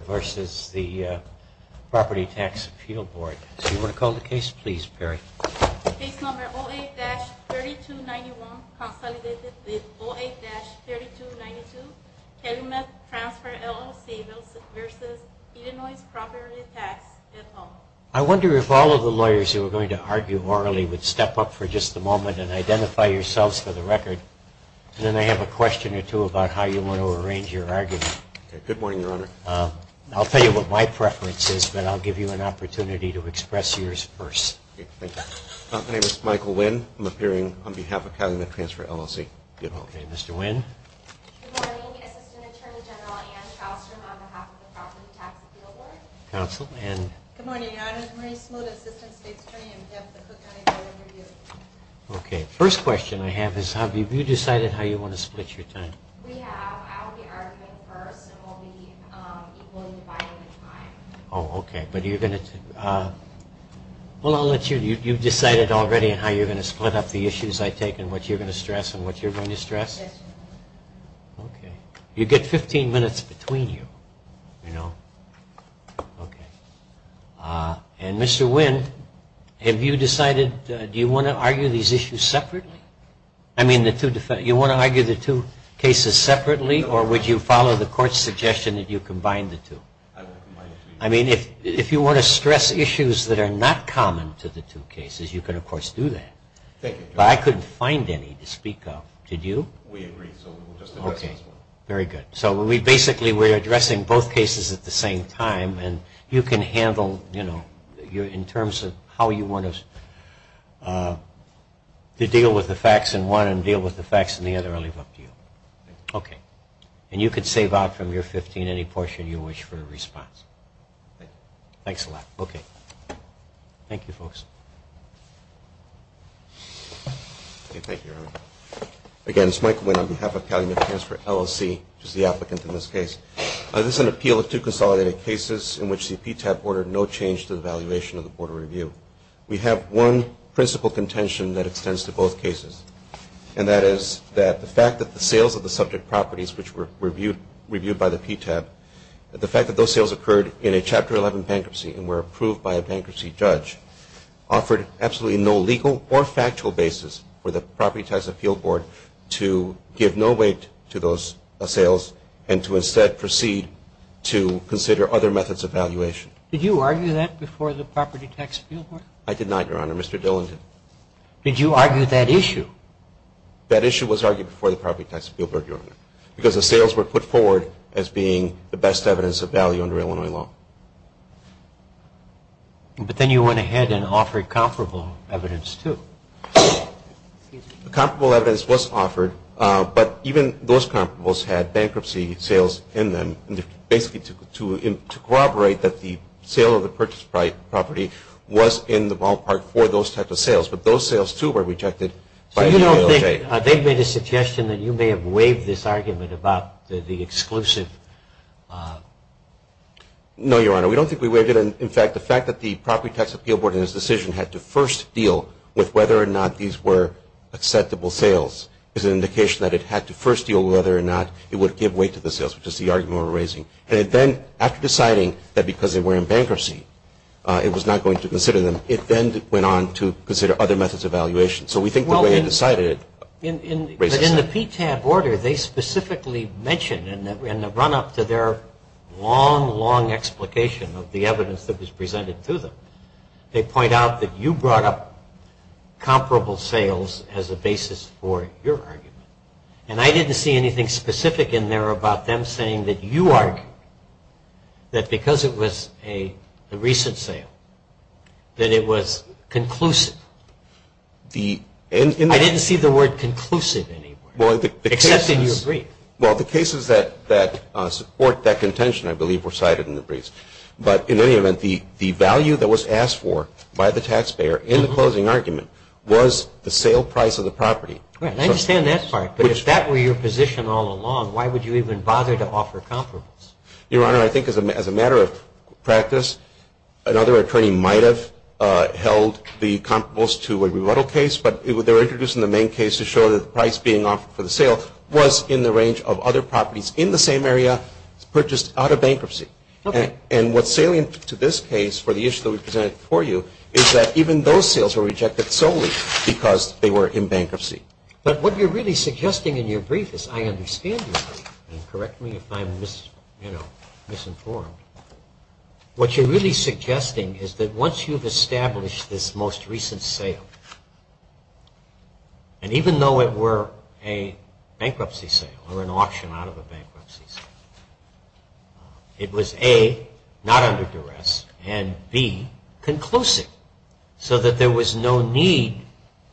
versus the Property Tax Appeal Board. Do you want to call the case, please, Perry? Case number 08-3291, consolidated with 08-3292, Calumet Transfer LLC v. Illinois Property Tax Appeal Board. I wonder if all of the lawyers who are going to argue orally would step up for just a moment and identify yourselves for the record, and then I have a question or two about how you want to arrange your argument. Good morning, Your Honor. I'll tell you what my preference is, but I'll give you an opportunity to express yours first. Okay, thank you. My name is Michael Nguyen. I'm appearing on behalf of Calumet Transfer LLC. Okay, Mr. Nguyen. Good morning. Assistant Attorney General Anne Kallstrom on behalf of the Property Tax Appeal Board. Counsel, Anne. Good morning, Your Honor. I'm Marie Smoot, Assistant State's Attorney on behalf of the Cook County Court of Review. Okay, first question I have is have you decided how you want to split your time? We have. I'll be arguing first, and we'll be equally dividing the time. Oh, okay. But you're going to... Well, I'll let you... You've decided already on how you're going to split up the issues I take and what you're going to stress and what you're going to stress? Yes, Your Honor. Okay. You get 15 minutes between you, you know? Okay. And, Mr. Nguyen, have you decided... Do you want to argue these issues separately? I mean, the two defense... You want to argue the two cases separately, or would you follow the court's suggestion that you combine the two? I would combine the two. I mean, if you want to stress issues that are not common to the two cases, you can, of course, do that. Thank you, Your Honor. But I couldn't find any to speak of. Did you? We agreed, so we'll just address this one. Okay. Very good. So we basically... We're addressing both cases at the same time, and you can handle, you know, in terms of how you want to deal with the facts in one and deal with the facts in the other. I'll leave it up to you. Okay. And you can save out from your 15 any portion you wish for a response. Okay. Thanks a lot. Okay. Thank you, folks. Okay, thank you, Your Honor. Again, it's Mike Nguyen on behalf of Calumet Transfer LLC, which is the applicant in this case. This is an appeal of two consolidated cases in which the PTAB ordered no change to the valuation of the Board of Review. We have one principal contention that extends to both cases, and that is that the fact that the sales of the subject properties, which were reviewed by the PTAB, the fact that those sales occurred in a Chapter 11 bankruptcy and were approved by a bankruptcy judge, offered absolutely no legal or factual basis for the Property Tax Appeal Board to give no weight to those sales and to instead proceed to consider other methods of valuation. Did you argue that before the Property Tax Appeal Board? I did not, Your Honor. Mr. Dillon did. Did you argue that issue? That issue was argued before the Property Tax Appeal Board, Your Honor, because the sales were put forward as being the best evidence of value under Illinois law. But then you went ahead and offered comparable evidence, too. Comparable evidence was offered, but even those comparables had bankruptcy sales in them, basically to corroborate that the sale of the purchased property was in the ballpark for those types of sales. But those sales, too, were rejected by the PLJ. So you don't think they made a suggestion that you may have waived this argument about the exclusive... No, Your Honor. We don't think we waived it. In fact, the fact that the Property Tax Appeal Board in its decision had to first deal with whether or not these were acceptable sales is an indication that it had to first deal with whether or not it would give way to the sales, which is the argument we're raising. And then, after deciding that because they were in bankruptcy, it was not going to consider them, it then went on to consider other methods of valuation. So we think the way it decided raises... But in the PTAB order, they specifically mention, in the run-up to their long, long explication of the evidence that was presented to them, they point out that you brought up comparable sales as a basis for your argument. And I didn't see anything specific in there about them saying that you argued that because it was a recent sale, that it was conclusive. I didn't see the word conclusive anywhere. Except in your brief. Well, the cases that support that contention, I believe, were cited in the briefs. But, in any event, the value that was asked for by the taxpayer in the closing argument was the sale price of the property. Right. I understand that part. But if that were your position all along, why would you even bother to offer comparables? Your Honor, I think as a matter of practice, another attorney might have held the comparables to a rebuttal case, but they were introduced in the main case to show that the price being offered for the sale was in the range of other properties in the same area purchased out of bankruptcy. Okay. And what's salient to this case for the issue that we presented for you is that even those sales were rejected solely because they were in bankruptcy. But what you're really suggesting in your brief is I understand your brief. And correct me if I'm misinformed. What you're really suggesting is that once you've established this most recent sale, and even though it were a bankruptcy sale or an auction out of a bankruptcy sale, it was, A, not under duress, and, B, conclusive, so that there was no need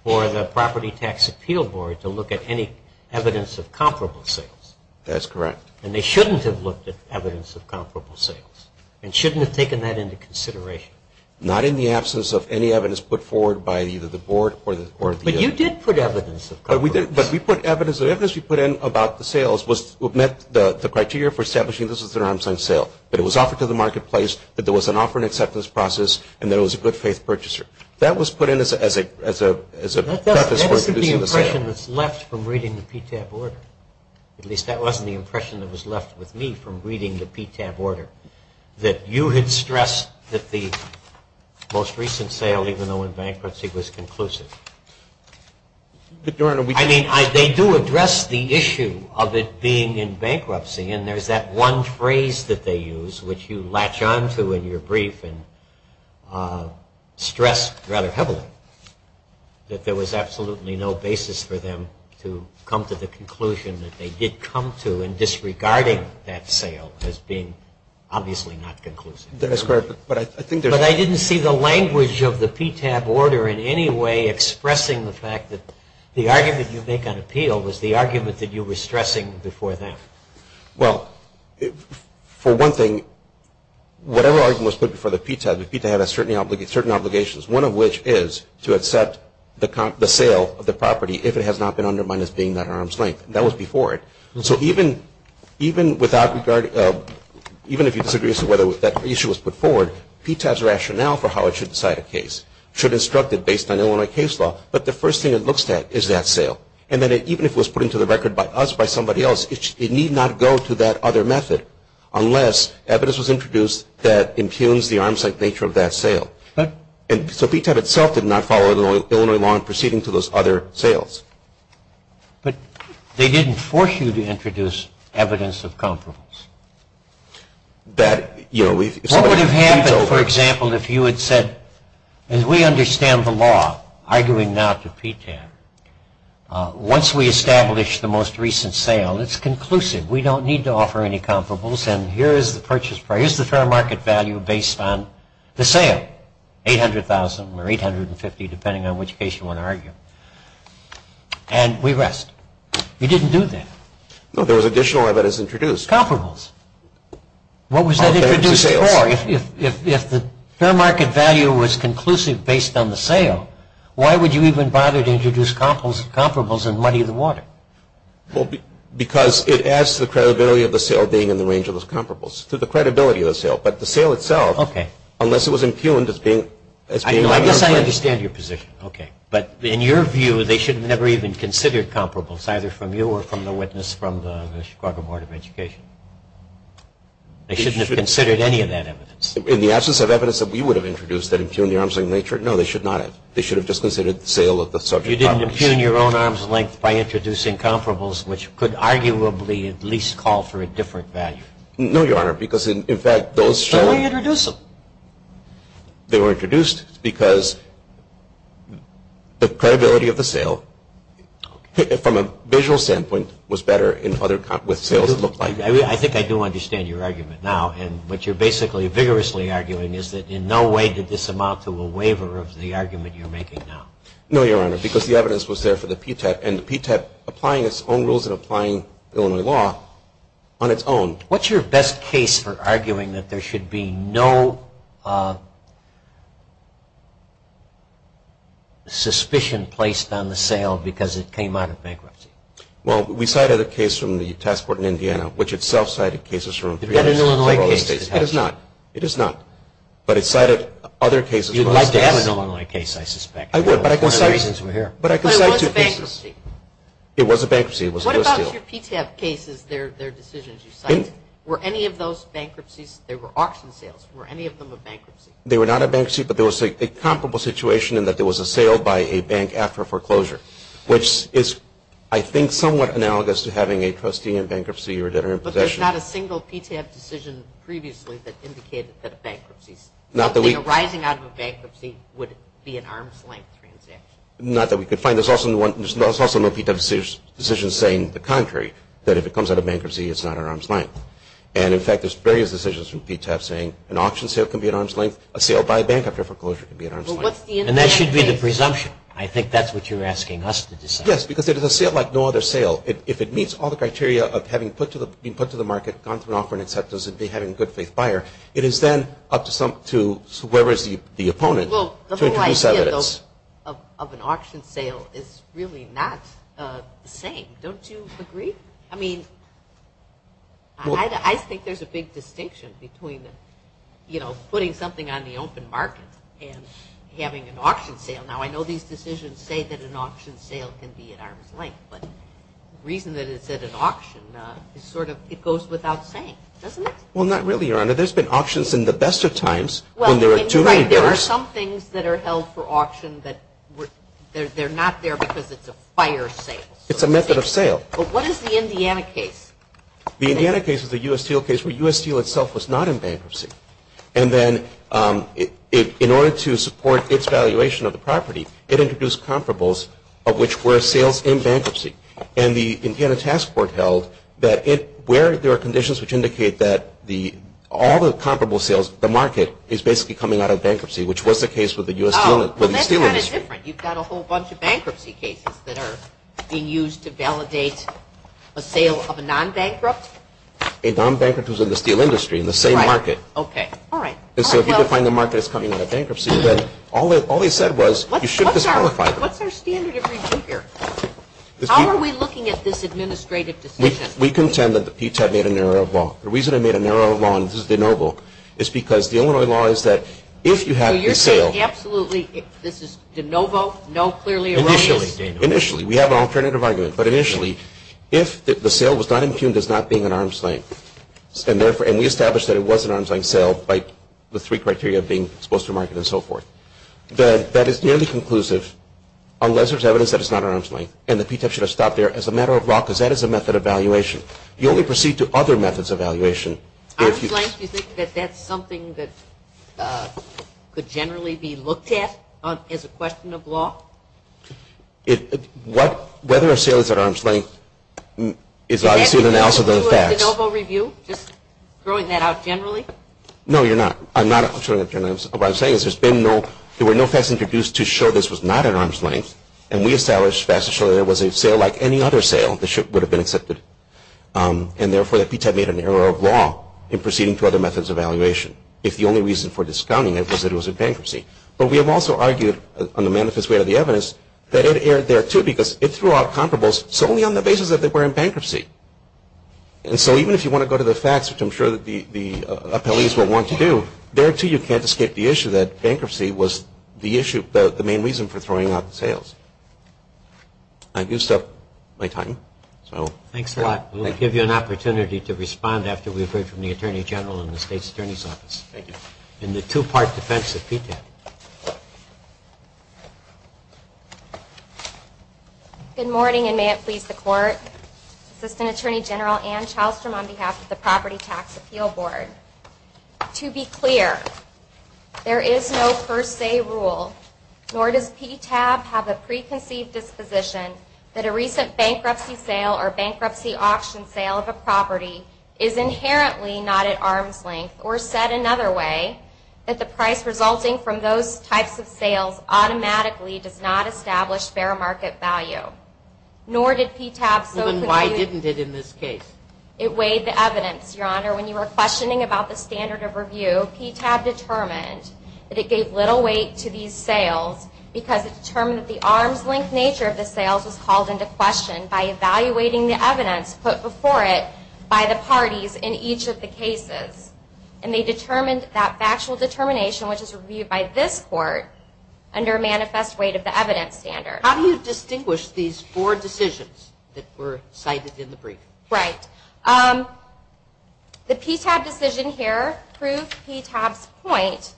for the Property Tax Appeal Board to look at any evidence of comparable sales. That's correct. And they shouldn't have looked at evidence of comparable sales and shouldn't have taken that into consideration. Not in the absence of any evidence put forward by either the board or the attorney. But you did put evidence of comparable sales. But we put evidence. The evidence we put in about the sales met the criteria for establishing this was an arms-length sale, that it was offered to the marketplace, that there was an offer and acceptance process, and that it was a good-faith purchaser. That was put in as a preface for introducing the sale. That isn't the impression that's left from reading the PTAB order. At least that wasn't the impression that was left with me from reading the PTAB order, that you had stressed that the most recent sale, even though in bankruptcy, was conclusive. I mean, they do address the issue of it being in bankruptcy, and there's that one phrase that they use, which you latch onto in your brief and stress rather heavily, that there was absolutely no basis for them to come to the conclusion that they did come to in disregarding that sale as being obviously not conclusive. That's correct. But I didn't see the language of the PTAB order in any way expressing the fact that the argument you make on appeal was the argument that you were stressing before them. Well, for one thing, whatever argument was put before the PTAB, the PTAB has certain obligations, one of which is to accept the sale of the property if it has not been undermined as being that arms-length. That was before it. So even if you disagree as to whether that issue was put forward, PTAB's rationale for how it should decide a case should instruct it based on Illinois case law, but the first thing it looks at is that sale. And then even if it was put into the record by us, by somebody else, it need not go to that other method unless evidence was introduced that impugns the arms-length nature of that sale. So PTAB itself did not follow Illinois law in proceeding to those other sales. But they didn't force you to introduce evidence of comparables. What would have happened, for example, if you had said, as we understand the law arguing now to PTAB, once we establish the most recent sale, it's conclusive. We don't need to offer any comparables, and here is the purchase price, here's the fair market value based on the sale, 800,000 or 850,000, depending on which case you want to argue. And we rest. You didn't do that. No, there was additional evidence introduced. Comparables. What was that introduced for? If the fair market value was conclusive based on the sale, why would you even bother to introduce comparables and muddy the water? Well, because it adds to the credibility of the sale being in the range of those comparables, to the credibility of the sale. But the sale itself, unless it was impugned as being out of your place. I guess I understand your position. Okay. But in your view, they should have never even considered comparables, either from you or from the witness from the Chicago Board of Education. They shouldn't have considered any of that evidence. In the absence of evidence that we would have introduced that impugned the arms of nature, no, they should not have. They should have just considered the sale of the subject property. You didn't impugn your own arm's length by introducing comparables, which could arguably at least call for a different value. No, Your Honor, because, in fact, those. So why introduce them? They were introduced because the credibility of the sale, from a visual standpoint, was better with sales that looked like it. I think I do understand your argument now, and what you're basically vigorously arguing is that in no way did this amount to a waiver of the argument you're making now. No, Your Honor, because the evidence was there for the PTEP, and the PTEP applying its own rules and applying Illinois law on its own. What's your best case for arguing that there should be no suspicion placed on the sale because it came out of bankruptcy? Well, we cited a case from the task force in Indiana, which itself cited cases from three other states. You've got an Illinois case. It is not. It is not, but it cited other cases. You'd like to have an Illinois case, I suspect. I would, but I can cite two cases. But it was a bankruptcy. It was a bankruptcy. What about your PTEP cases, their decisions? Were any of those bankruptcies? They were auction sales. Were any of them a bankruptcy? They were not a bankruptcy, but there was a comparable situation in that there was a sale by a bank after a foreclosure, which is, I think, somewhat analogous to having a trustee in bankruptcy or a debtor in possession. But there's not a single PTEP decision previously that indicated that it bankruptcies. Nothing arising out of a bankruptcy would be an arm's length transaction. Not that we could find. There's also no PTEP decision saying the contrary, that if it comes out of bankruptcy, it's not an arm's length. And, in fact, there's various decisions from PTEP saying an auction sale can be an arm's length, a sale by a bank after foreclosure can be an arm's length. And that should be the presumption. I think that's what you're asking us to decide. Yes, because it is a sale like no other sale. If it meets all the criteria of having been put to the market, gone through an offer and acceptance, and being a good-faith buyer, it is then up to whoever is the opponent to introduce evidence. The argument of an auction sale is really not the same. Don't you agree? I mean, I think there's a big distinction between, you know, putting something on the open market and having an auction sale. Now, I know these decisions say that an auction sale can be an arm's length, but the reason that it's at an auction is sort of it goes without saying, doesn't it? Well, not really, Your Honor. There's been auctions in the best of times when there are too many buyers. There are some things that are held for auction that they're not there because it's a fire sale. It's a method of sale. But what is the Indiana case? The Indiana case is the U.S. Steel case where U.S. Steel itself was not in bankruptcy. And then in order to support its valuation of the property, it introduced comparables of which were sales in bankruptcy. And the Indiana task force held that where there are conditions which indicate that all the comparable sales, the market is basically coming out of bankruptcy, which was the case with the U.S. Steel industry. Well, that's kind of different. You've got a whole bunch of bankruptcy cases that are being used to validate a sale of a non-bankrupt. A non-bankrupt is in the steel industry in the same market. Okay. All right. So if you define the market as coming out of bankruptcy, then all they said was you should disqualify it. What's our standard of review here? How are we looking at this administrative decision? We contend that the PTAB made a narrow law. The reason it made a narrow law, and this is de novo, is because the Illinois law is that if you have a sale. So you're saying absolutely this is de novo, no clearly erroneous? Initially. Initially. We have an alternative argument. But initially, if the sale was not impugned as not being an arm's length, and we established that it was an arm's length sale by the three criteria of being supposed to market and so forth, that is nearly conclusive unless there's evidence that it's not an arm's length and the PTAB should have stopped there as a matter of law because that is a method of valuation. You only proceed to other methods of valuation. Arm's length? Do you think that that's something that could generally be looked at as a question of law? Whether a sale is at arm's length is obviously an analysis of the facts. Just throwing that out generally? No, you're not. I'm not throwing that out generally. What I'm saying is there were no facts introduced to show this was not an arm's length, and we established facts to show that it was a sale like any other sale. The ship would have been accepted. And, therefore, the PTAB made an error of law in proceeding to other methods of valuation if the only reason for discounting it was that it was in bankruptcy. But we have also argued on the manifest way of the evidence that it erred there, too, because it threw out comparables solely on the basis that they were in bankruptcy. And so even if you want to go to the facts, which I'm sure the appellees will want to do, there, too, you can't escape the issue that bankruptcy was the main reason for throwing out the sales. I've used up my time. Thanks a lot. We'll give you an opportunity to respond after we've heard from the Attorney General in the State's Attorney's Office. Thank you. In the two-part defense of PTAB. Good morning, and may it please the Court. Assistant Attorney General Ann Chalstrom on behalf of the Property Tax Appeal Board. To be clear, there is no per se rule, nor does PTAB have a preconceived disposition, that a recent bankruptcy sale or bankruptcy auction sale of a property is inherently not at arm's length, or said another way, that the price resulting from those types of sales automatically does not establish fair market value. Nor did PTAB so clearly. Then why didn't it in this case? It weighed the evidence, Your Honor. When you were questioning about the standard of review, PTAB determined that it gave little weight to these sales because it determined that the arm's length nature of the sales was called into question by evaluating the evidence put before it by the parties in each of the cases. And they determined that factual determination, which is reviewed by this Court, under a manifest weight of the evidence standard. How do you distinguish these four decisions that were cited in the briefing? Right. The PTAB decision here proved PTAB's point.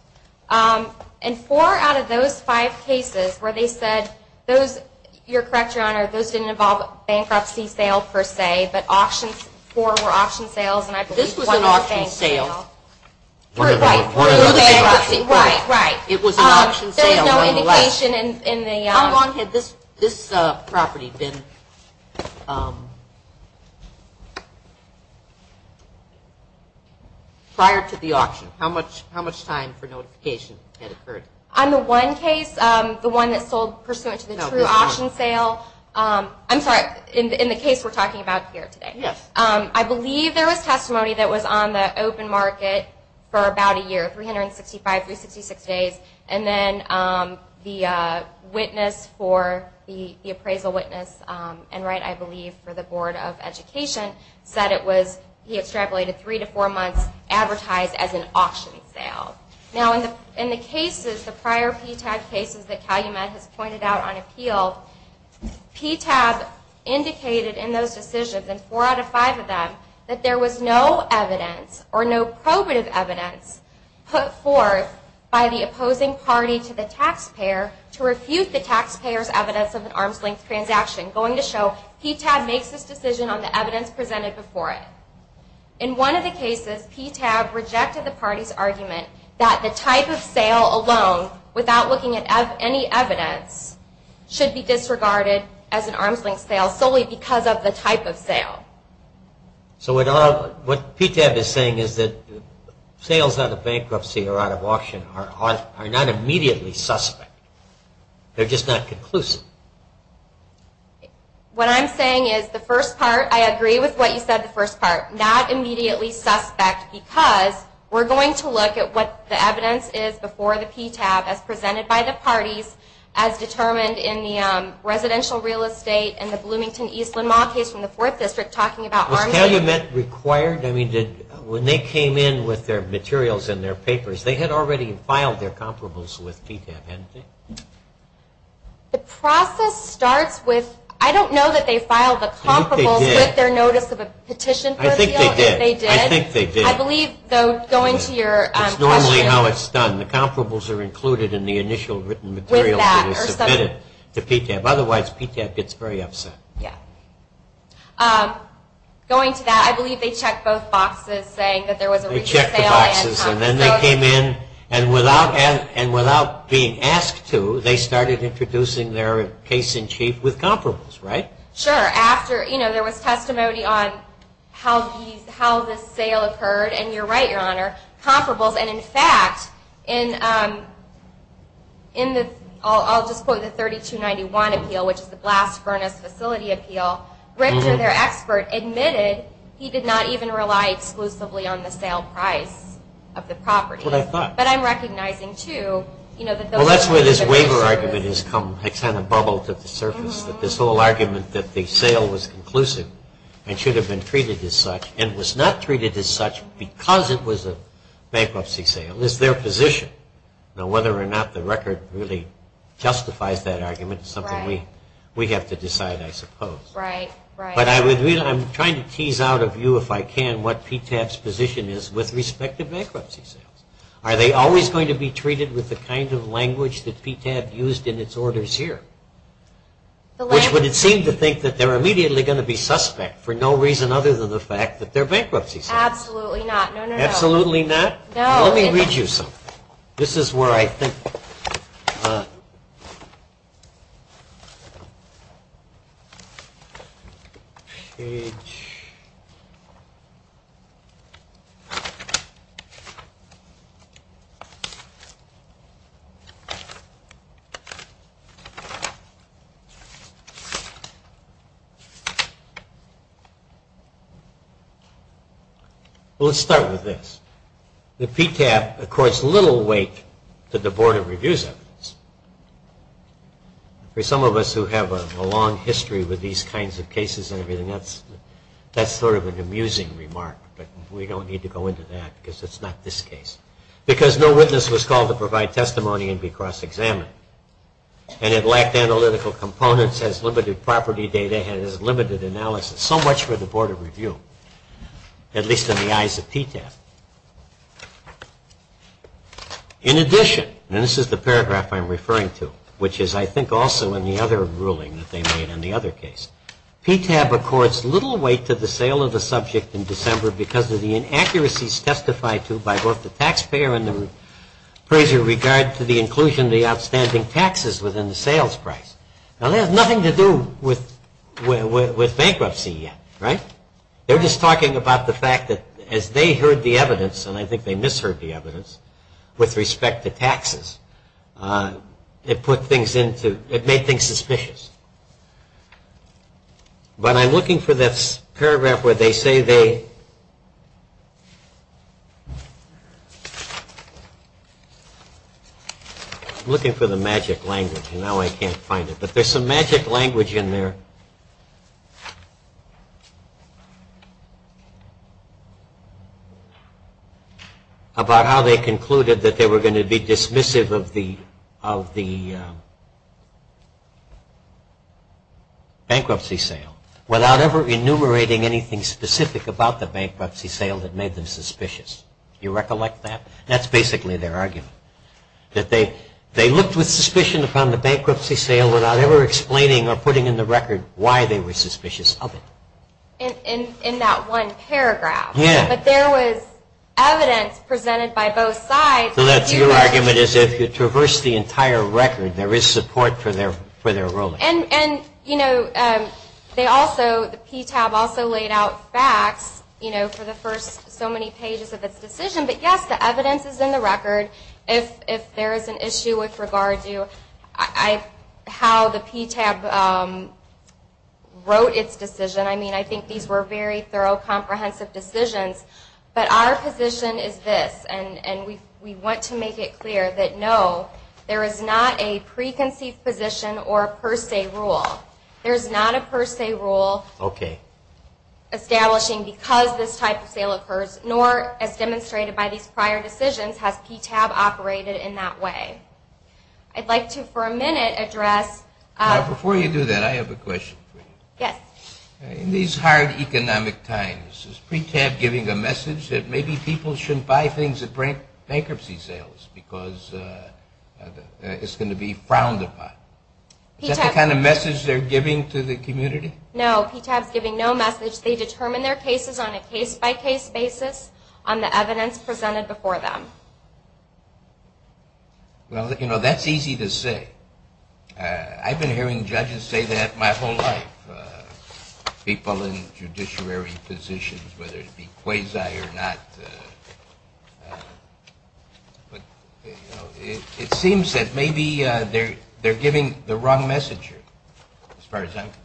And four out of those five cases where they said those, you're correct, Your Honor, those didn't involve a bankruptcy sale per se, but four were auction sales, and I believe one was a bankruptcy sale. This was an auction sale. Right. Right. Right. It was an auction sale. There was no indication in the auction. How long had this property been prior to the auction? How much time for notification had occurred? On the one case, the one that sold pursuant to the true auction sale. I'm sorry, in the case we're talking about here today. Yes. I believe there was testimony that was on the open market for about a year, 365, 366 days. And then the witness for, the appraisal witness, Enright, I believe, for the Board of Education, said it was, he extrapolated three to four months, advertised as an auction sale. Now in the cases, the prior PTAB cases that Calumet has pointed out on appeal, PTAB indicated in those decisions, and four out of five of them, that there was no evidence or no probative evidence put forth by the opposing party to the taxpayer to refute the taxpayer's evidence of an arm's length transaction, going to show PTAB makes this decision on the evidence presented before it. In one of the cases, PTAB rejected the party's argument that the type of sale alone, without looking at any evidence, should be disregarded as an arm's length sale, solely because of the type of sale. So what PTAB is saying is that sales out of bankruptcy or out of auction are not immediately suspect. They're just not conclusive. What I'm saying is the first part, I agree with what you said the first part, not immediately suspect because we're going to look at what the evidence is before the PTAB as presented by the parties, as determined in the residential real estate and the Bloomington Eastland Mall case from the Fourth District talking about arm's length. Was Calumet required? Because they had already filed their comparables with PTAB, hadn't they? The process starts with, I don't know that they filed the comparables with their notice of a petition. I think they did. I think they did. I believe, though, going to your question. It's normally how it's done. The comparables are included in the initial written material that is submitted to PTAB. Otherwise, PTAB gets very upset. Going to that, I believe they checked both boxes saying that there was a recent sale. And then they came in and without being asked to, they started introducing their case in chief with comparables, right? Sure. There was testimony on how this sale occurred, and you're right, Your Honor, comparables. And, in fact, I'll just quote the 3291 appeal, which is the blast furnace facility appeal. Richter, their expert, admitted he did not even rely exclusively on the sale price of the property. Well, I thought. But I'm recognizing, too, you know, that those of us who have been through it. Well, that's where this waiver argument has come, it's kind of bubbled to the surface, that this whole argument that the sale was conclusive and should have been treated as such and was not treated as such because it was a bankruptcy sale is their position. Now, whether or not the record really justifies that argument is something we have to decide, I suppose. Right. But I'm trying to tease out of you, if I can, what PTAB's position is with respect to bankruptcy sales. Are they always going to be treated with the kind of language that PTAB used in its orders here? Which would it seem to think that they're immediately going to be suspect for no reason other than the fact that they're bankruptcy sales. Absolutely not. Absolutely not? No. Let me read you something. This is where I think. Well, let's start with this. The PTAB accords little weight to the Board of Review's evidence. For some of us who have a long history with these kinds of cases and everything, that's sort of an amusing remark, but we don't need to go into that because it's not this case. Because no witness was called to provide testimony and be cross-examined. And it lacked analytical components, has limited property data, has limited analysis. So much for the Board of Review, at least in the eyes of PTAB. In addition, and this is the paragraph I'm referring to, which is I think also in the other ruling that they made in the other case, PTAB accords little weight to the sale of the subject in December because of the inaccuracies testified to by both the taxpayer and the appraiser in regard to the inclusion of the outstanding taxes within the sales price. Now, that has nothing to do with bankruptcy yet, right? They're just talking about the fact that as they heard the evidence, and I think they misheard the evidence with respect to taxes, it made things suspicious. But I'm looking for that paragraph where they say they... I'm looking for the magic language, and now I can't find it. But there's some magic language in there about how they concluded that they were going to be dismissive of the bankruptcy sale without ever enumerating anything specific about the bankruptcy sale that made them suspicious. Do you recollect that? That's basically their argument, that they looked with suspicion upon the bankruptcy sale without ever explaining or putting in the record why they were suspicious of it. In that one paragraph. Yeah. But there was evidence presented by both sides. So that's your argument is if you traverse the entire record, there is support for their ruling. And, you know, the PTAB also laid out facts, you know, for the first so many pages of its decision. But, yes, the evidence is in the record. If there is an issue with regard to how the PTAB wrote its decision, I mean, I think these were very thorough, comprehensive decisions, but our position is this, and we want to make it clear that, no, there is not a preconceived position or a per se rule. There is not a per se rule establishing because this type of sale occurs, nor, as demonstrated by these prior decisions, has PTAB operated in that way. I'd like to for a minute address. Before you do that, I have a question for you. Yes. In these hard economic times, is PTAB giving a message that maybe people shouldn't buy things at bankruptcy sales because it's going to be frowned upon? Is that the kind of message they're giving to the community? No, PTAB is giving no message. They determine their cases on a case-by-case basis on the evidence presented before them. Well, you know, that's easy to say. I've been hearing judges say that my whole life, people in judiciary positions, whether it be quasi or not. It seems that maybe they're giving the wrong message as far as I'm concerned.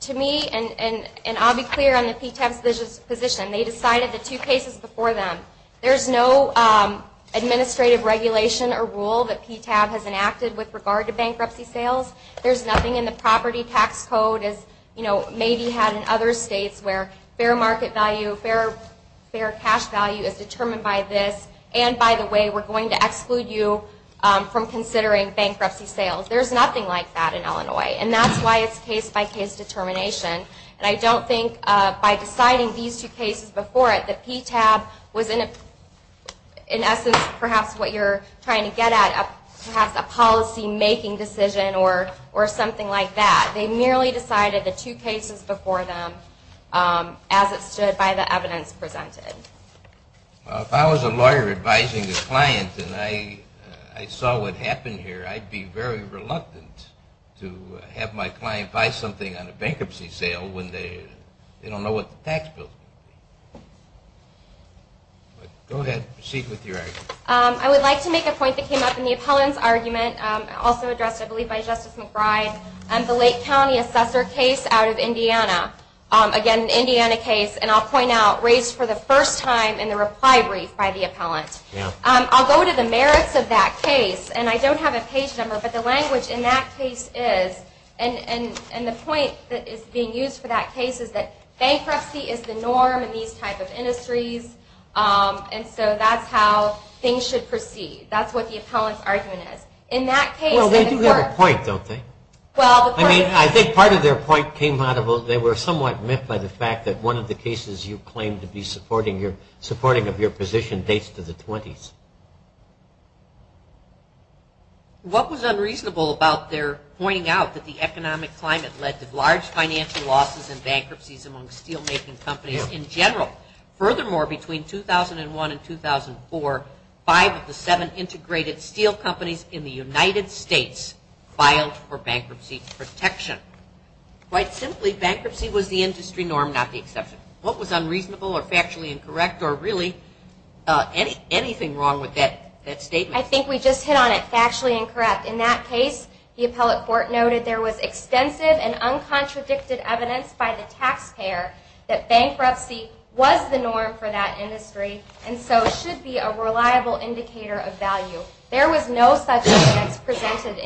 To me, and I'll be clear on the PTAB's position, they decided the two cases before them. There's no administrative regulation or rule that PTAB has enacted with regard to bankruptcy sales. There's nothing in the property tax code, as maybe had in other states, where fair market value, fair cash value is determined by this, and by the way, we're going to exclude you from considering bankruptcy sales. There's nothing like that in Illinois, and that's why it's case-by-case determination. And I don't think by deciding these two cases before it, that PTAB was in essence perhaps what you're trying to get at, perhaps a policy-making decision or something like that. They merely decided the two cases before them as it stood by the evidence presented. Well, if I was a lawyer advising a client and I saw what happened here, I'd be very reluctant to have my client buy something on a bankruptcy sale when they don't know what the tax bill is. Go ahead. Proceed with your argument. I would like to make a point that came up in the appellant's argument, also addressed I believe by Justice McBride, the Lake County Assessor case out of Indiana. Again, an Indiana case, and I'll point out, raised for the first time in the reply brief by the appellant. I'll go to the merits of that case. And I don't have a page number, but the language in that case is, and the point that is being used for that case is that bankruptcy is the norm in these type of industries, and so that's how things should proceed. That's what the appellant's argument is. Well, they do have a point, don't they? I think part of their point came out of, Well, they were somewhat miffed by the fact that one of the cases you claimed to be supporting of your position dates to the 20s. What was unreasonable about their pointing out that the economic climate led to large financial losses and bankruptcies among steelmaking companies in general? Furthermore, between 2001 and 2004, five of the seven integrated steel companies in the United States filed for bankruptcy protection. Quite simply, bankruptcy was the industry norm, not the exception. What was unreasonable or factually incorrect or really anything wrong with that statement? I think we just hit on it, factually incorrect. In that case, the appellate court noted there was extensive and uncontradicted evidence by the taxpayer that bankruptcy was the norm for that industry and so should be a reliable indicator of value. There was no such evidence presented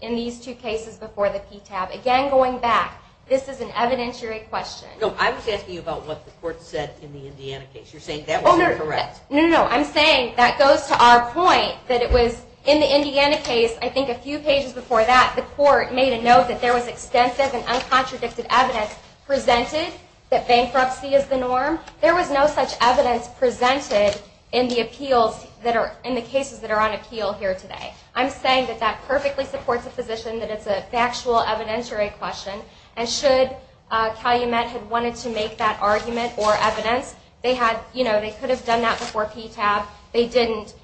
in these two cases before the PTAB. Again, going back, this is an evidentiary question. No, I was asking you about what the court said in the Indiana case. You're saying that was incorrect. No, no, no. I'm saying that goes to our point that it was in the Indiana case, I think a few pages before that, the court made a note that there was extensive and uncontradicted evidence presented that bankruptcy is the norm. There was no such evidence presented in the cases that are on appeal here today. I'm saying that that perfectly supports the position that it's a factual evidentiary question and should Calumet have wanted to make that argument or evidence, they could have done that before PTAB. They didn't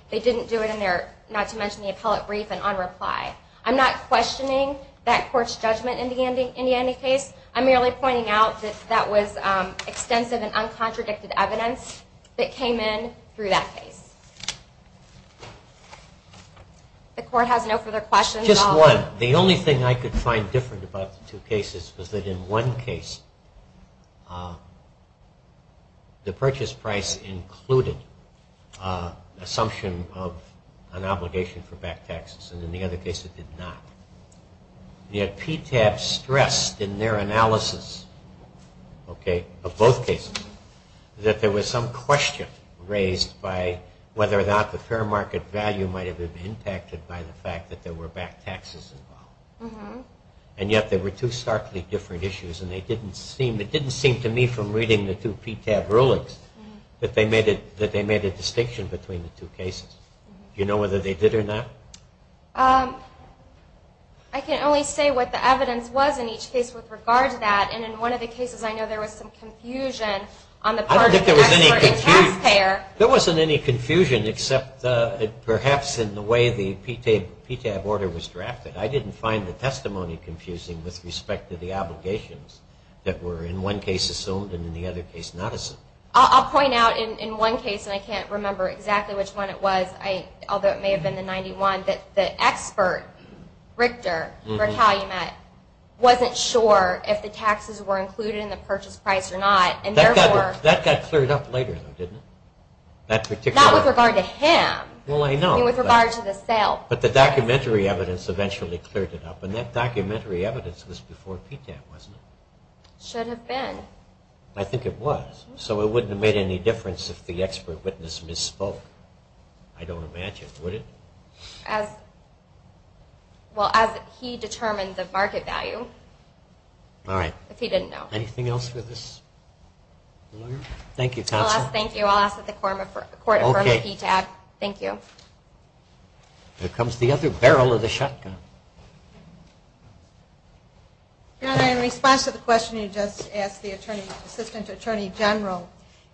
do it in their, not to mention, the appellate brief and on reply. I'm not questioning that court's judgment in the Indiana case. I'm merely pointing out that that was extensive and uncontradicted evidence that came in through that case. The court has no further questions. Just one. The only thing I could find different about the two cases was that in one case, the purchase price included assumption of an obligation for back taxes, and in the other case it did not. Yet PTAB stressed in their analysis of both cases that there was some question raised by whether or not the fair market value might have been impacted by the fact that there were back taxes involved. And yet they were two starkly different issues, and it didn't seem to me from reading the two PTAB rulings that they made a distinction between the two cases. Do you know whether they did or not? I can only say what the evidence was in each case with regard to that, and in one of the cases I know there was some confusion on the part of the taxpayer. I don't think there was any confusion. There wasn't any confusion except perhaps in the way the PTAB order was drafted. I didn't find the testimony confusing with respect to the obligations that were in one case assumed and in the other case not assumed. I'll point out in one case, and I can't remember exactly which one it was, although it may have been the 91, that the expert, Richter, wasn't sure if the taxes were included in the purchase price or not. That got cleared up later, though, didn't it? Not with regard to him. Well, I know. With regard to the sale. But the documentary evidence eventually cleared it up, and that documentary evidence was before PTAB, wasn't it? Should have been. I think it was. So it wouldn't have made any difference if the expert witness misspoke. I don't imagine. Would it? Well, as he determined the market value. All right. If he didn't know. Anything else for this lawyer? Thank you, Counsel. Thank you. I'll ask that the Court affirm the PTAB. Thank you. Here comes the other barrel of the shotgun. Your Honor, in response to the question you just asked the Assistant Attorney General,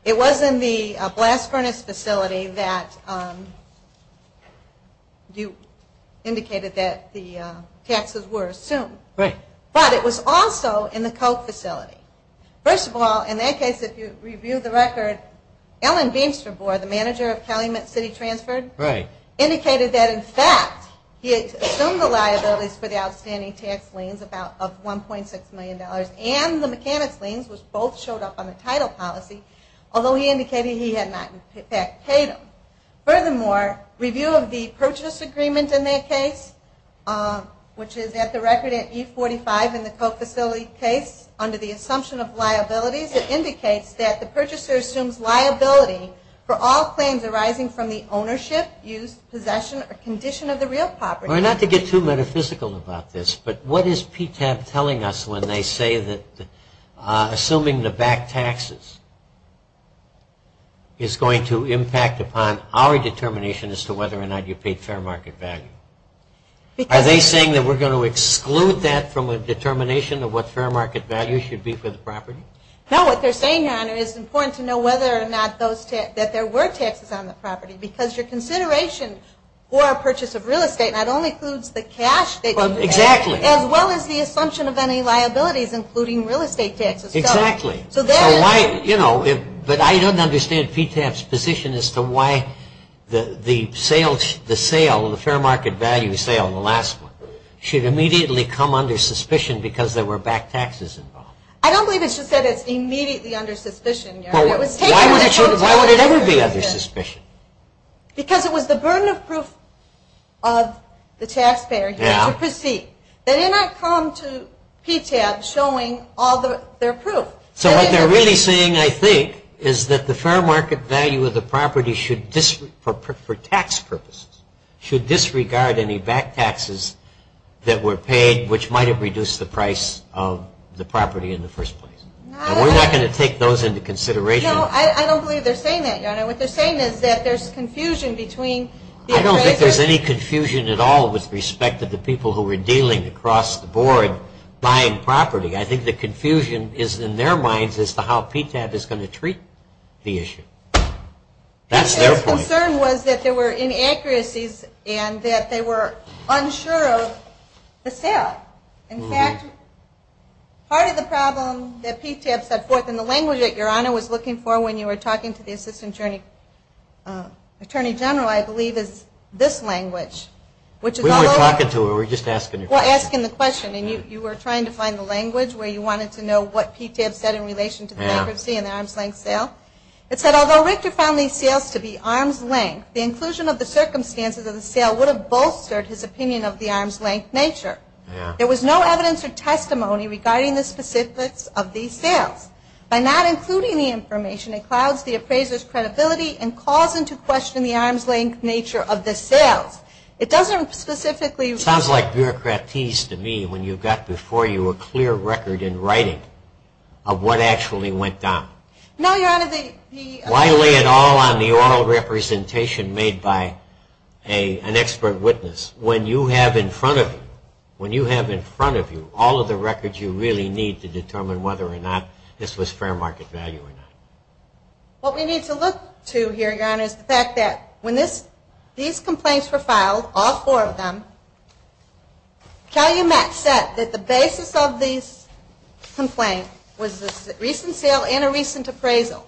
it was in the blast furnace facility that you indicated that the taxes were assumed. Right. But it was also in the coke facility. First of all, in that case, if you review the record, Ellen Beamster, the manager of Calumet City Transfer, indicated that, in fact, he assumed the liabilities for the outstanding tax liens of $1.6 million and the mechanic's liens, which both showed up on the title policy, although he indicated he had not in fact paid them. Furthermore, review of the purchase agreement in that case, which is at the record at E45 in the coke facility case, under the assumption of liabilities, it indicates that the purchaser assumes liability for all claims arising from the ownership, use, possession, or condition of the real property. Not to get too metaphysical about this, but what is PTAB telling us when they say that assuming the back taxes is going to impact upon our determination as to whether or not you paid fair market value? Are they saying that we're going to exclude that from a determination of what fair market value should be for the property? No, what they're saying, Your Honor, is it's important to know whether or not that there were taxes on the property because your consideration for a purchase of real estate not only includes the cash that you pay as well as the assumption of any liabilities, including real estate taxes. Exactly. But I don't understand PTAB's position as to why the sale, the fair market value sale, the last one, should immediately come under suspicion because there were back taxes involved. I don't believe it's just that it's immediately under suspicion, Your Honor. Why would it ever be under suspicion? Because it was the burden of proof of the taxpayer to proceed. They did not come to PTAB showing all their proof. So what they're really saying, I think, is that the fair market value of the property for tax purposes should disregard any back taxes that were paid, which might have reduced the price of the property in the first place. And we're not going to take those into consideration. No, I don't believe they're saying that, Your Honor. What they're saying is that there's confusion between the appraisers. I don't think there's any confusion at all with respect to the people who were dealing across the board buying property. I think the confusion is in their minds as to how PTAB is going to treat the issue. That's their point. Their concern was that there were inaccuracies and that they were unsure of the sale. In fact, part of the problem that PTAB set forth in the language that Your Honor was looking for when you were talking to the Assistant Attorney General, I believe, is this language. We weren't talking to her. We were just asking the question. Well, asking the question. And you were trying to find the language where you wanted to know what PTAB said in relation to the bankruptcy and the arm's length sale. It said, although Richter found these sales to be arm's length, the inclusion of the circumstances of the sale would have bolstered his opinion of the arm's length nature. There was no evidence or testimony regarding the specifics of these sales. By not including the information, it clouds the appraiser's credibility and calls into question the arm's length nature of the sales. It doesn't specifically – Sounds like bureaucratese to me when you've got before you a clear record in writing of what actually went down. No, Your Honor, the – Why lay it all on the oral representation made by an expert witness when you have in front of you – when you have in front of you all of the records you really need to determine whether or not this was fair market value or not? What we need to look to here, Your Honor, is the fact that when these complaints were filed, all four of them, Calumet said that the basis of these complaints was a recent sale and a recent appraisal.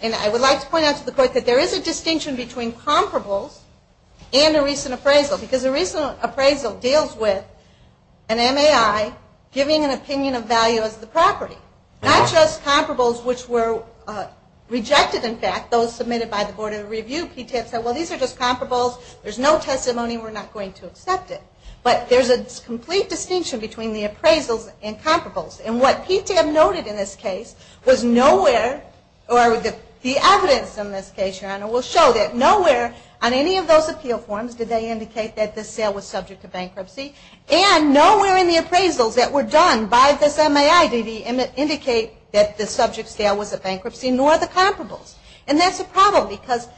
And I would like to point out to the Court that there is a distinction between comparables and a recent appraisal, because a recent appraisal deals with an MAI giving an opinion of value as the property, not just comparables which were rejected, in fact, those submitted by the Board of Review. PTAB said, well, these are just comparables. There's no testimony. We're not going to accept it. But there's a complete distinction between the appraisals and comparables. And what PTAB noted in this case was nowhere – or the evidence in this case, Your Honor, will show that nowhere on any of those appeal forms did they indicate that this sale was subject to bankruptcy. And nowhere in the appraisals that were done by this MAI did it indicate that the subject sale was a bankruptcy nor the comparables. And that's a problem because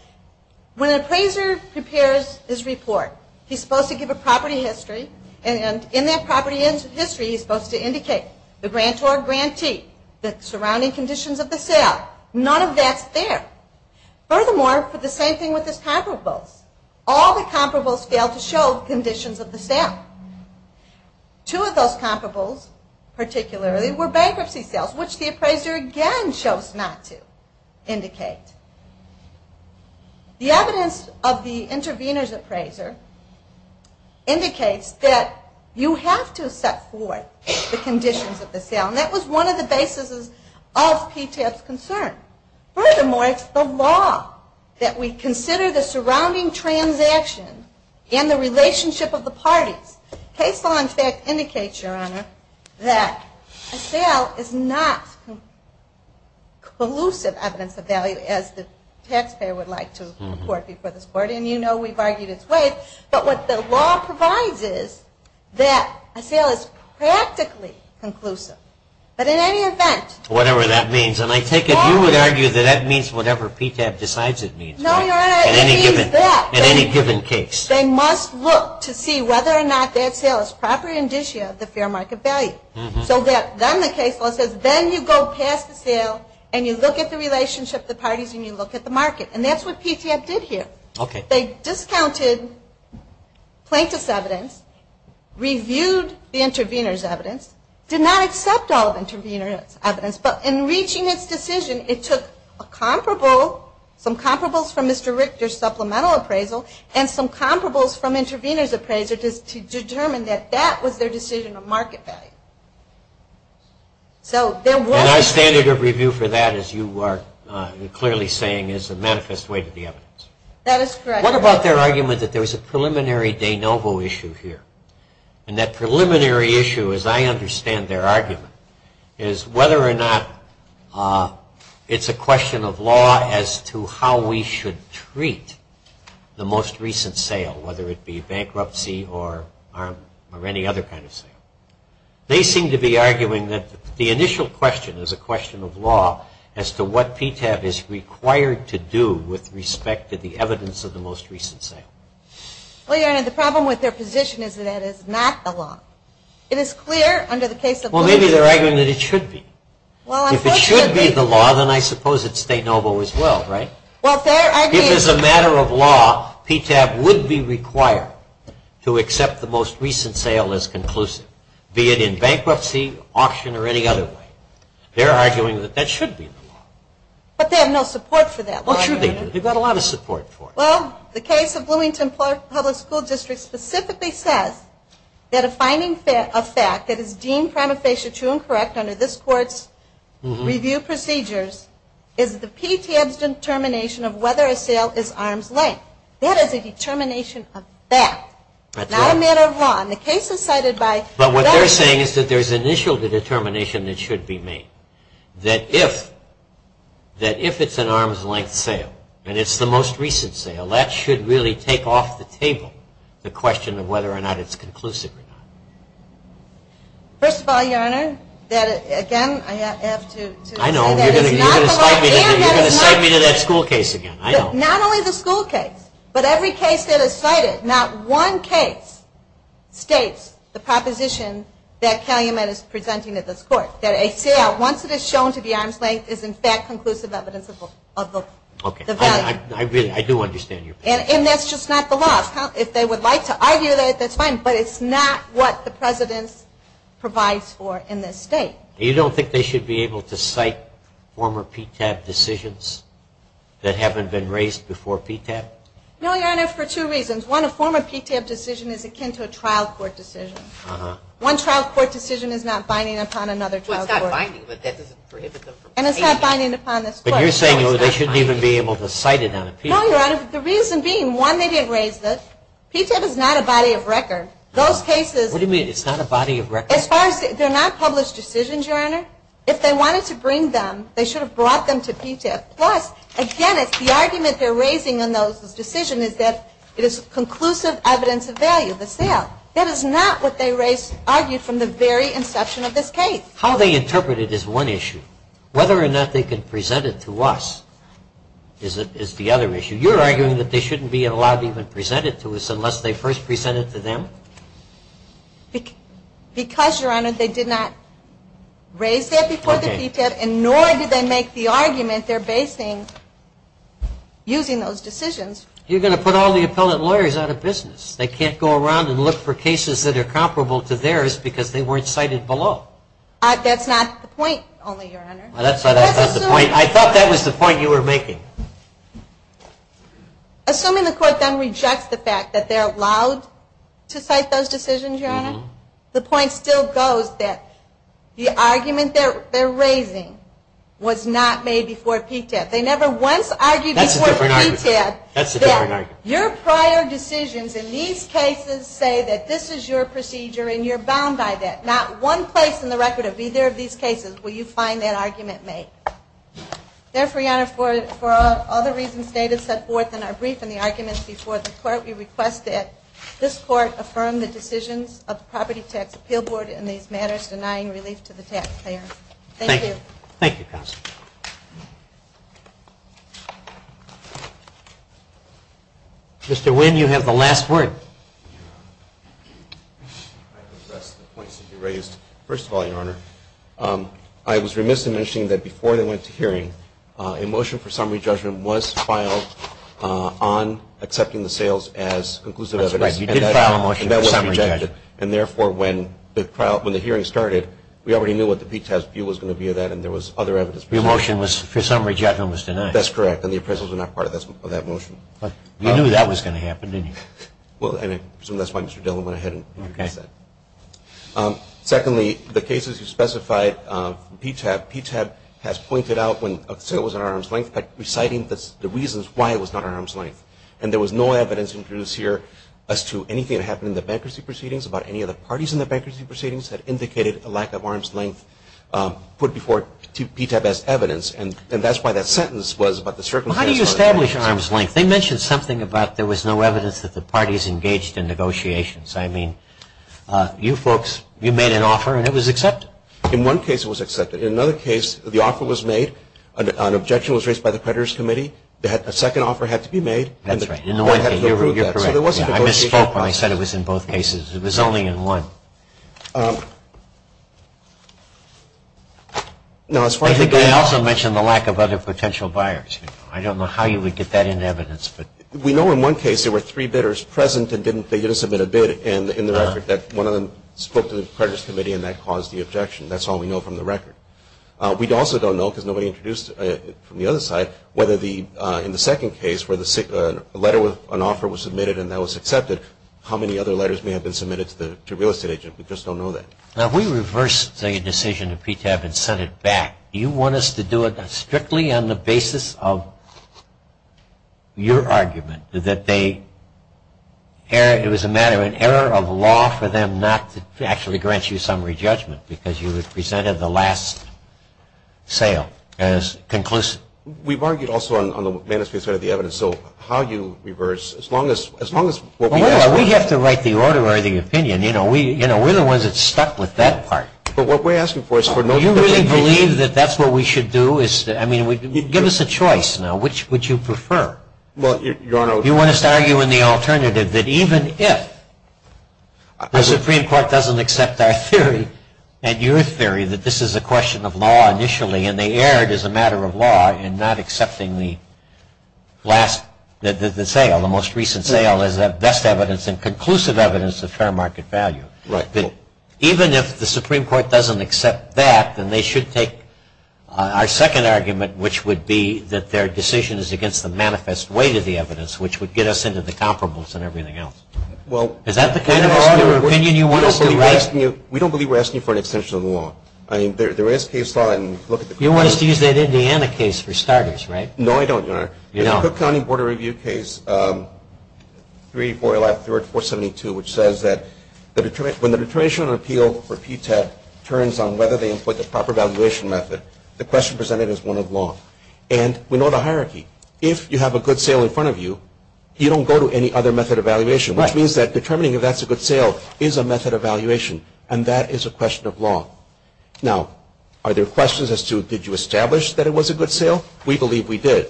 when an appraiser prepares his report, he's supposed to give a property history, and in that property history he's supposed to indicate the grantor or grantee, the surrounding conditions of the sale. None of that's there. Furthermore, for the same thing with his comparables, all the comparables failed to show conditions of the sale. Two of those comparables, particularly, were bankruptcy sales, which the appraiser again chose not to indicate. The evidence of the intervener's appraiser indicates that you have to set forth the conditions of the sale. And that was one of the basis of PTAB's concern. Furthermore, it's the law that we consider the surrounding transaction and the relationship of the parties. Case law, in fact, indicates, Your Honor, that a sale is not conclusive evidence of value, as the taxpayer would like to report before this Court. And you know we've argued its ways. But what the law provides is that a sale is practically conclusive. But in any event... Whatever that means. And I take it you would argue that that means whatever PTAB decides it means. No, Your Honor, it means that. In any given case. They must look to see whether or not that sale is proper indicia of the fair market value. So then the case law says then you go past the sale and you look at the relationship of the parties and you look at the market. And that's what PTAB did here. Okay. They discounted plaintiff's evidence, reviewed the intervener's evidence, did not accept all of the intervener's evidence, but in reaching its decision, it took a comparable, some comparables from Mr. Richter's supplemental appraisal, and some comparables from intervener's appraisal to determine that that was their decision of market value. And our standard of review for that, as you are clearly saying, is a manifest way to the evidence. That is correct. What about their argument that there was a preliminary de novo issue here? And that preliminary issue, as I understand their argument, is whether or not it's a question of law as to how we should treat the most recent sale, whether it be bankruptcy or any other kind of sale. They seem to be arguing that the initial question is a question of law as to what PTAB is required to do with respect to the evidence of the most recent sale. Well, Your Honor, the problem with their position is that that is not the law. It is clear under the case of Louis... Well, maybe they're arguing that it should be. Well, unfortunately... If it should be the law, then I suppose it's de novo as well, right? Well, they're arguing... If it's a matter of law, PTAB would be required to accept the most recent sale as conclusive, be it in bankruptcy, auction, or any other way. They're arguing that that should be the law. But they have no support for that law, Your Honor. Well, sure they do. They've got a lot of support for it. Well, the case of Bloomington Public School District specifically says that a finding of fact that is deemed prima facie true and correct under this Court's review procedures is the PTAB's determination of whether a sale is arm's length. That is a determination of fact, not a matter of law. And the case is cited by... But what they're saying is that there's an initial determination that should be made, that if it's an arm's length sale and it's the most recent sale, that should really take off the table the question of whether or not it's conclusive or not. First of all, Your Honor, again, I have to... I know. You're going to cite me to that school case again. I know. Not only the school case, but every case that is cited, not one case states the proposition that Calumet is presenting at this Court, that a sale, once it is shown to be arm's length, is in fact conclusive evidence of the value. Okay. I do understand your point. And that's just not the law. If they would like to argue that, that's fine. But it's not what the President provides for in this State. You don't think they should be able to cite former PTAB decisions that haven't been raised before PTAB? No, Your Honor, for two reasons. One, a former PTAB decision is akin to a trial court decision. One trial court decision is not binding upon another trial court decision. Well, it's not binding, but that doesn't prohibit them from... And it's not binding upon this Court. But you're saying they shouldn't even be able to cite it on a PTAB... No, Your Honor, the reason being, one, they didn't raise this. PTAB is not a body of record. Those cases... What do you mean, it's not a body of record? As far as... they're not published decisions, Your Honor. If they wanted to bring them, they should have brought them to PTAB. Plus, again, the argument they're raising in those decisions is that it is conclusive evidence of value, the sale. That is not what they raised, argued from the very inception of this case. How they interpret it is one issue. Whether or not they can present it to us is the other issue. You're arguing that they shouldn't be allowed to even present it to us unless they first present it to them? Because, Your Honor, they did not raise that before the PTAB, and nor did they make the argument they're basing using those decisions. You're going to put all the appellate lawyers out of business. They can't go around and look for cases that are comparable to theirs because they weren't cited below. That's not the point, only, Your Honor. That's not the point. I thought that was the point you were making. Assuming the court then rejects the fact that they're allowed to cite those decisions, Your Honor, the point still goes that the argument they're raising was not made before PTAB. They never once argued before the PTAB that your prior decisions in these cases say that this is your procedure and you're bound by that. Not one place in the record of either of these cases will you find that argument made. Therefore, Your Honor, for all the reasons stated set forth in our brief and the arguments before the court, we request that this court affirm the decisions of the Property Tax Appeal Board in these matters denying relief to the taxpayer. Thank you. Thank you, counsel. Mr. Wynn, you have the last word. I can address the points that you raised. First of all, Your Honor, I was remiss in mentioning that before they went to hearing, a motion for summary judgment was filed on accepting the sales as conclusive evidence. That's right. We did file a motion for summary judgment. And therefore, when the hearing started, we already knew what the PTAB's view was going to be of that and there was other evidence. Your motion was for summary judgment was denied. That's correct, and the appraisals were not part of that motion. You knew that was going to happen, didn't you? Well, and I presume that's why Mr. Dillon went ahead and introduced that. Secondly, the cases you specified from PTAB, PTAB has pointed out when a sale was an arm's length by reciting the reasons why it was not an arm's length. And there was no evidence introduced here as to anything that happened in the bankruptcy proceedings about any of the parties in the bankruptcy proceedings that indicated a lack of arm's length put before PTAB as evidence. And that's why that sentence was about the circumstances. Well, how do you establish arm's length? They mentioned something about there was no evidence that the parties engaged in negotiations. I mean, you folks, you made an offer and it was accepted. In one case, it was accepted. In another case, the offer was made, an objection was raised by the creditors' committee, that a second offer had to be made. That's right. You're correct. I misspoke when I said it was in both cases. It was only in one. I think they also mentioned the lack of other potential buyers. I don't know how you would get that into evidence. We know in one case there were three bidders present and they didn't submit a bid in the record. One of them spoke to the creditors' committee and that caused the objection. That's all we know from the record. We also don't know, because nobody introduced it from the other side, whether in the second case where a letter with an offer was submitted and that was accepted, how many other letters may have been submitted to a real estate agent. We just don't know that. Now, we reversed the decision of PTAB and sent it back. Do you want us to do it strictly on the basis of your argument that it was a matter of an error of law for them to actually grant you summary judgment because you had presented the last sale as conclusive? We've argued also on the manuscript side of the evidence, so how you reverse, as long as what we ask for. We have to write the order or the opinion. You know, we're the ones that stuck with that part. But what we're asking for is for notice. Do you really believe that that's what we should do? I mean, give us a choice now. Which would you prefer? You want us to argue in the alternative that even if the Supreme Court doesn't accept our theory and your theory that this is a question of law initially, and they erred as a matter of law in not accepting the sale, the most recent sale, as the best evidence and conclusive evidence of fair market value. Even if the Supreme Court doesn't accept that, then they should take our second argument, which would be that their decision is against the manifest weight of the evidence, which would get us into the comparables and everything else. Is that the kind of opinion you want us to write? We don't believe we're asking you for an extension of the law. I mean, there is case law. You want us to use that Indiana case for starters, right? No, I don't, Your Honor. The Cook County Board of Review case 384.472, which says that when the determination of an appeal for PTAT turns on whether they input the proper valuation method, the question presented is one of law. And we know the hierarchy. If you have a good sale in front of you, you don't go to any other method of valuation, which means that determining if that's a good sale is a method of valuation, and that is a question of law. Now, are there questions as to did you establish that it was a good sale? We believe we did.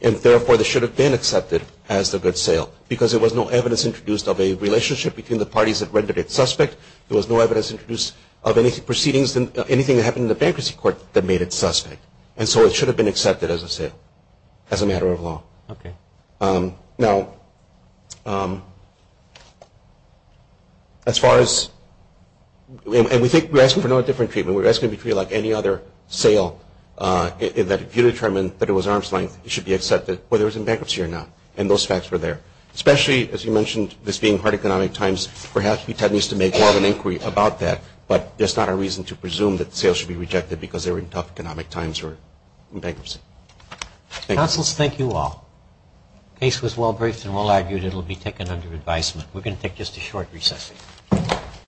And therefore, this should have been accepted as the good sale because there was no evidence introduced of a relationship between the parties that rendered it suspect. There was no evidence introduced of any proceedings, anything that happened in the bankruptcy court that made it suspect. And so it should have been accepted as a sale, as a matter of law. Okay. Now, as far as, and we think we're asking for no different treatment. We're asking it to be like any other sale in that if you determine that it was arm's length, it should be accepted whether it was in bankruptcy or not. And those facts were there. Especially, as you mentioned, this being hard economic times, perhaps we tend to make more of an inquiry about that, but there's not a reason to presume that sales should be rejected because they were in tough economic times or in bankruptcy. Thank you. Counselors, thank you all. The case was well briefed and well argued. It will be taken under advisement. We're going to take just a short recess.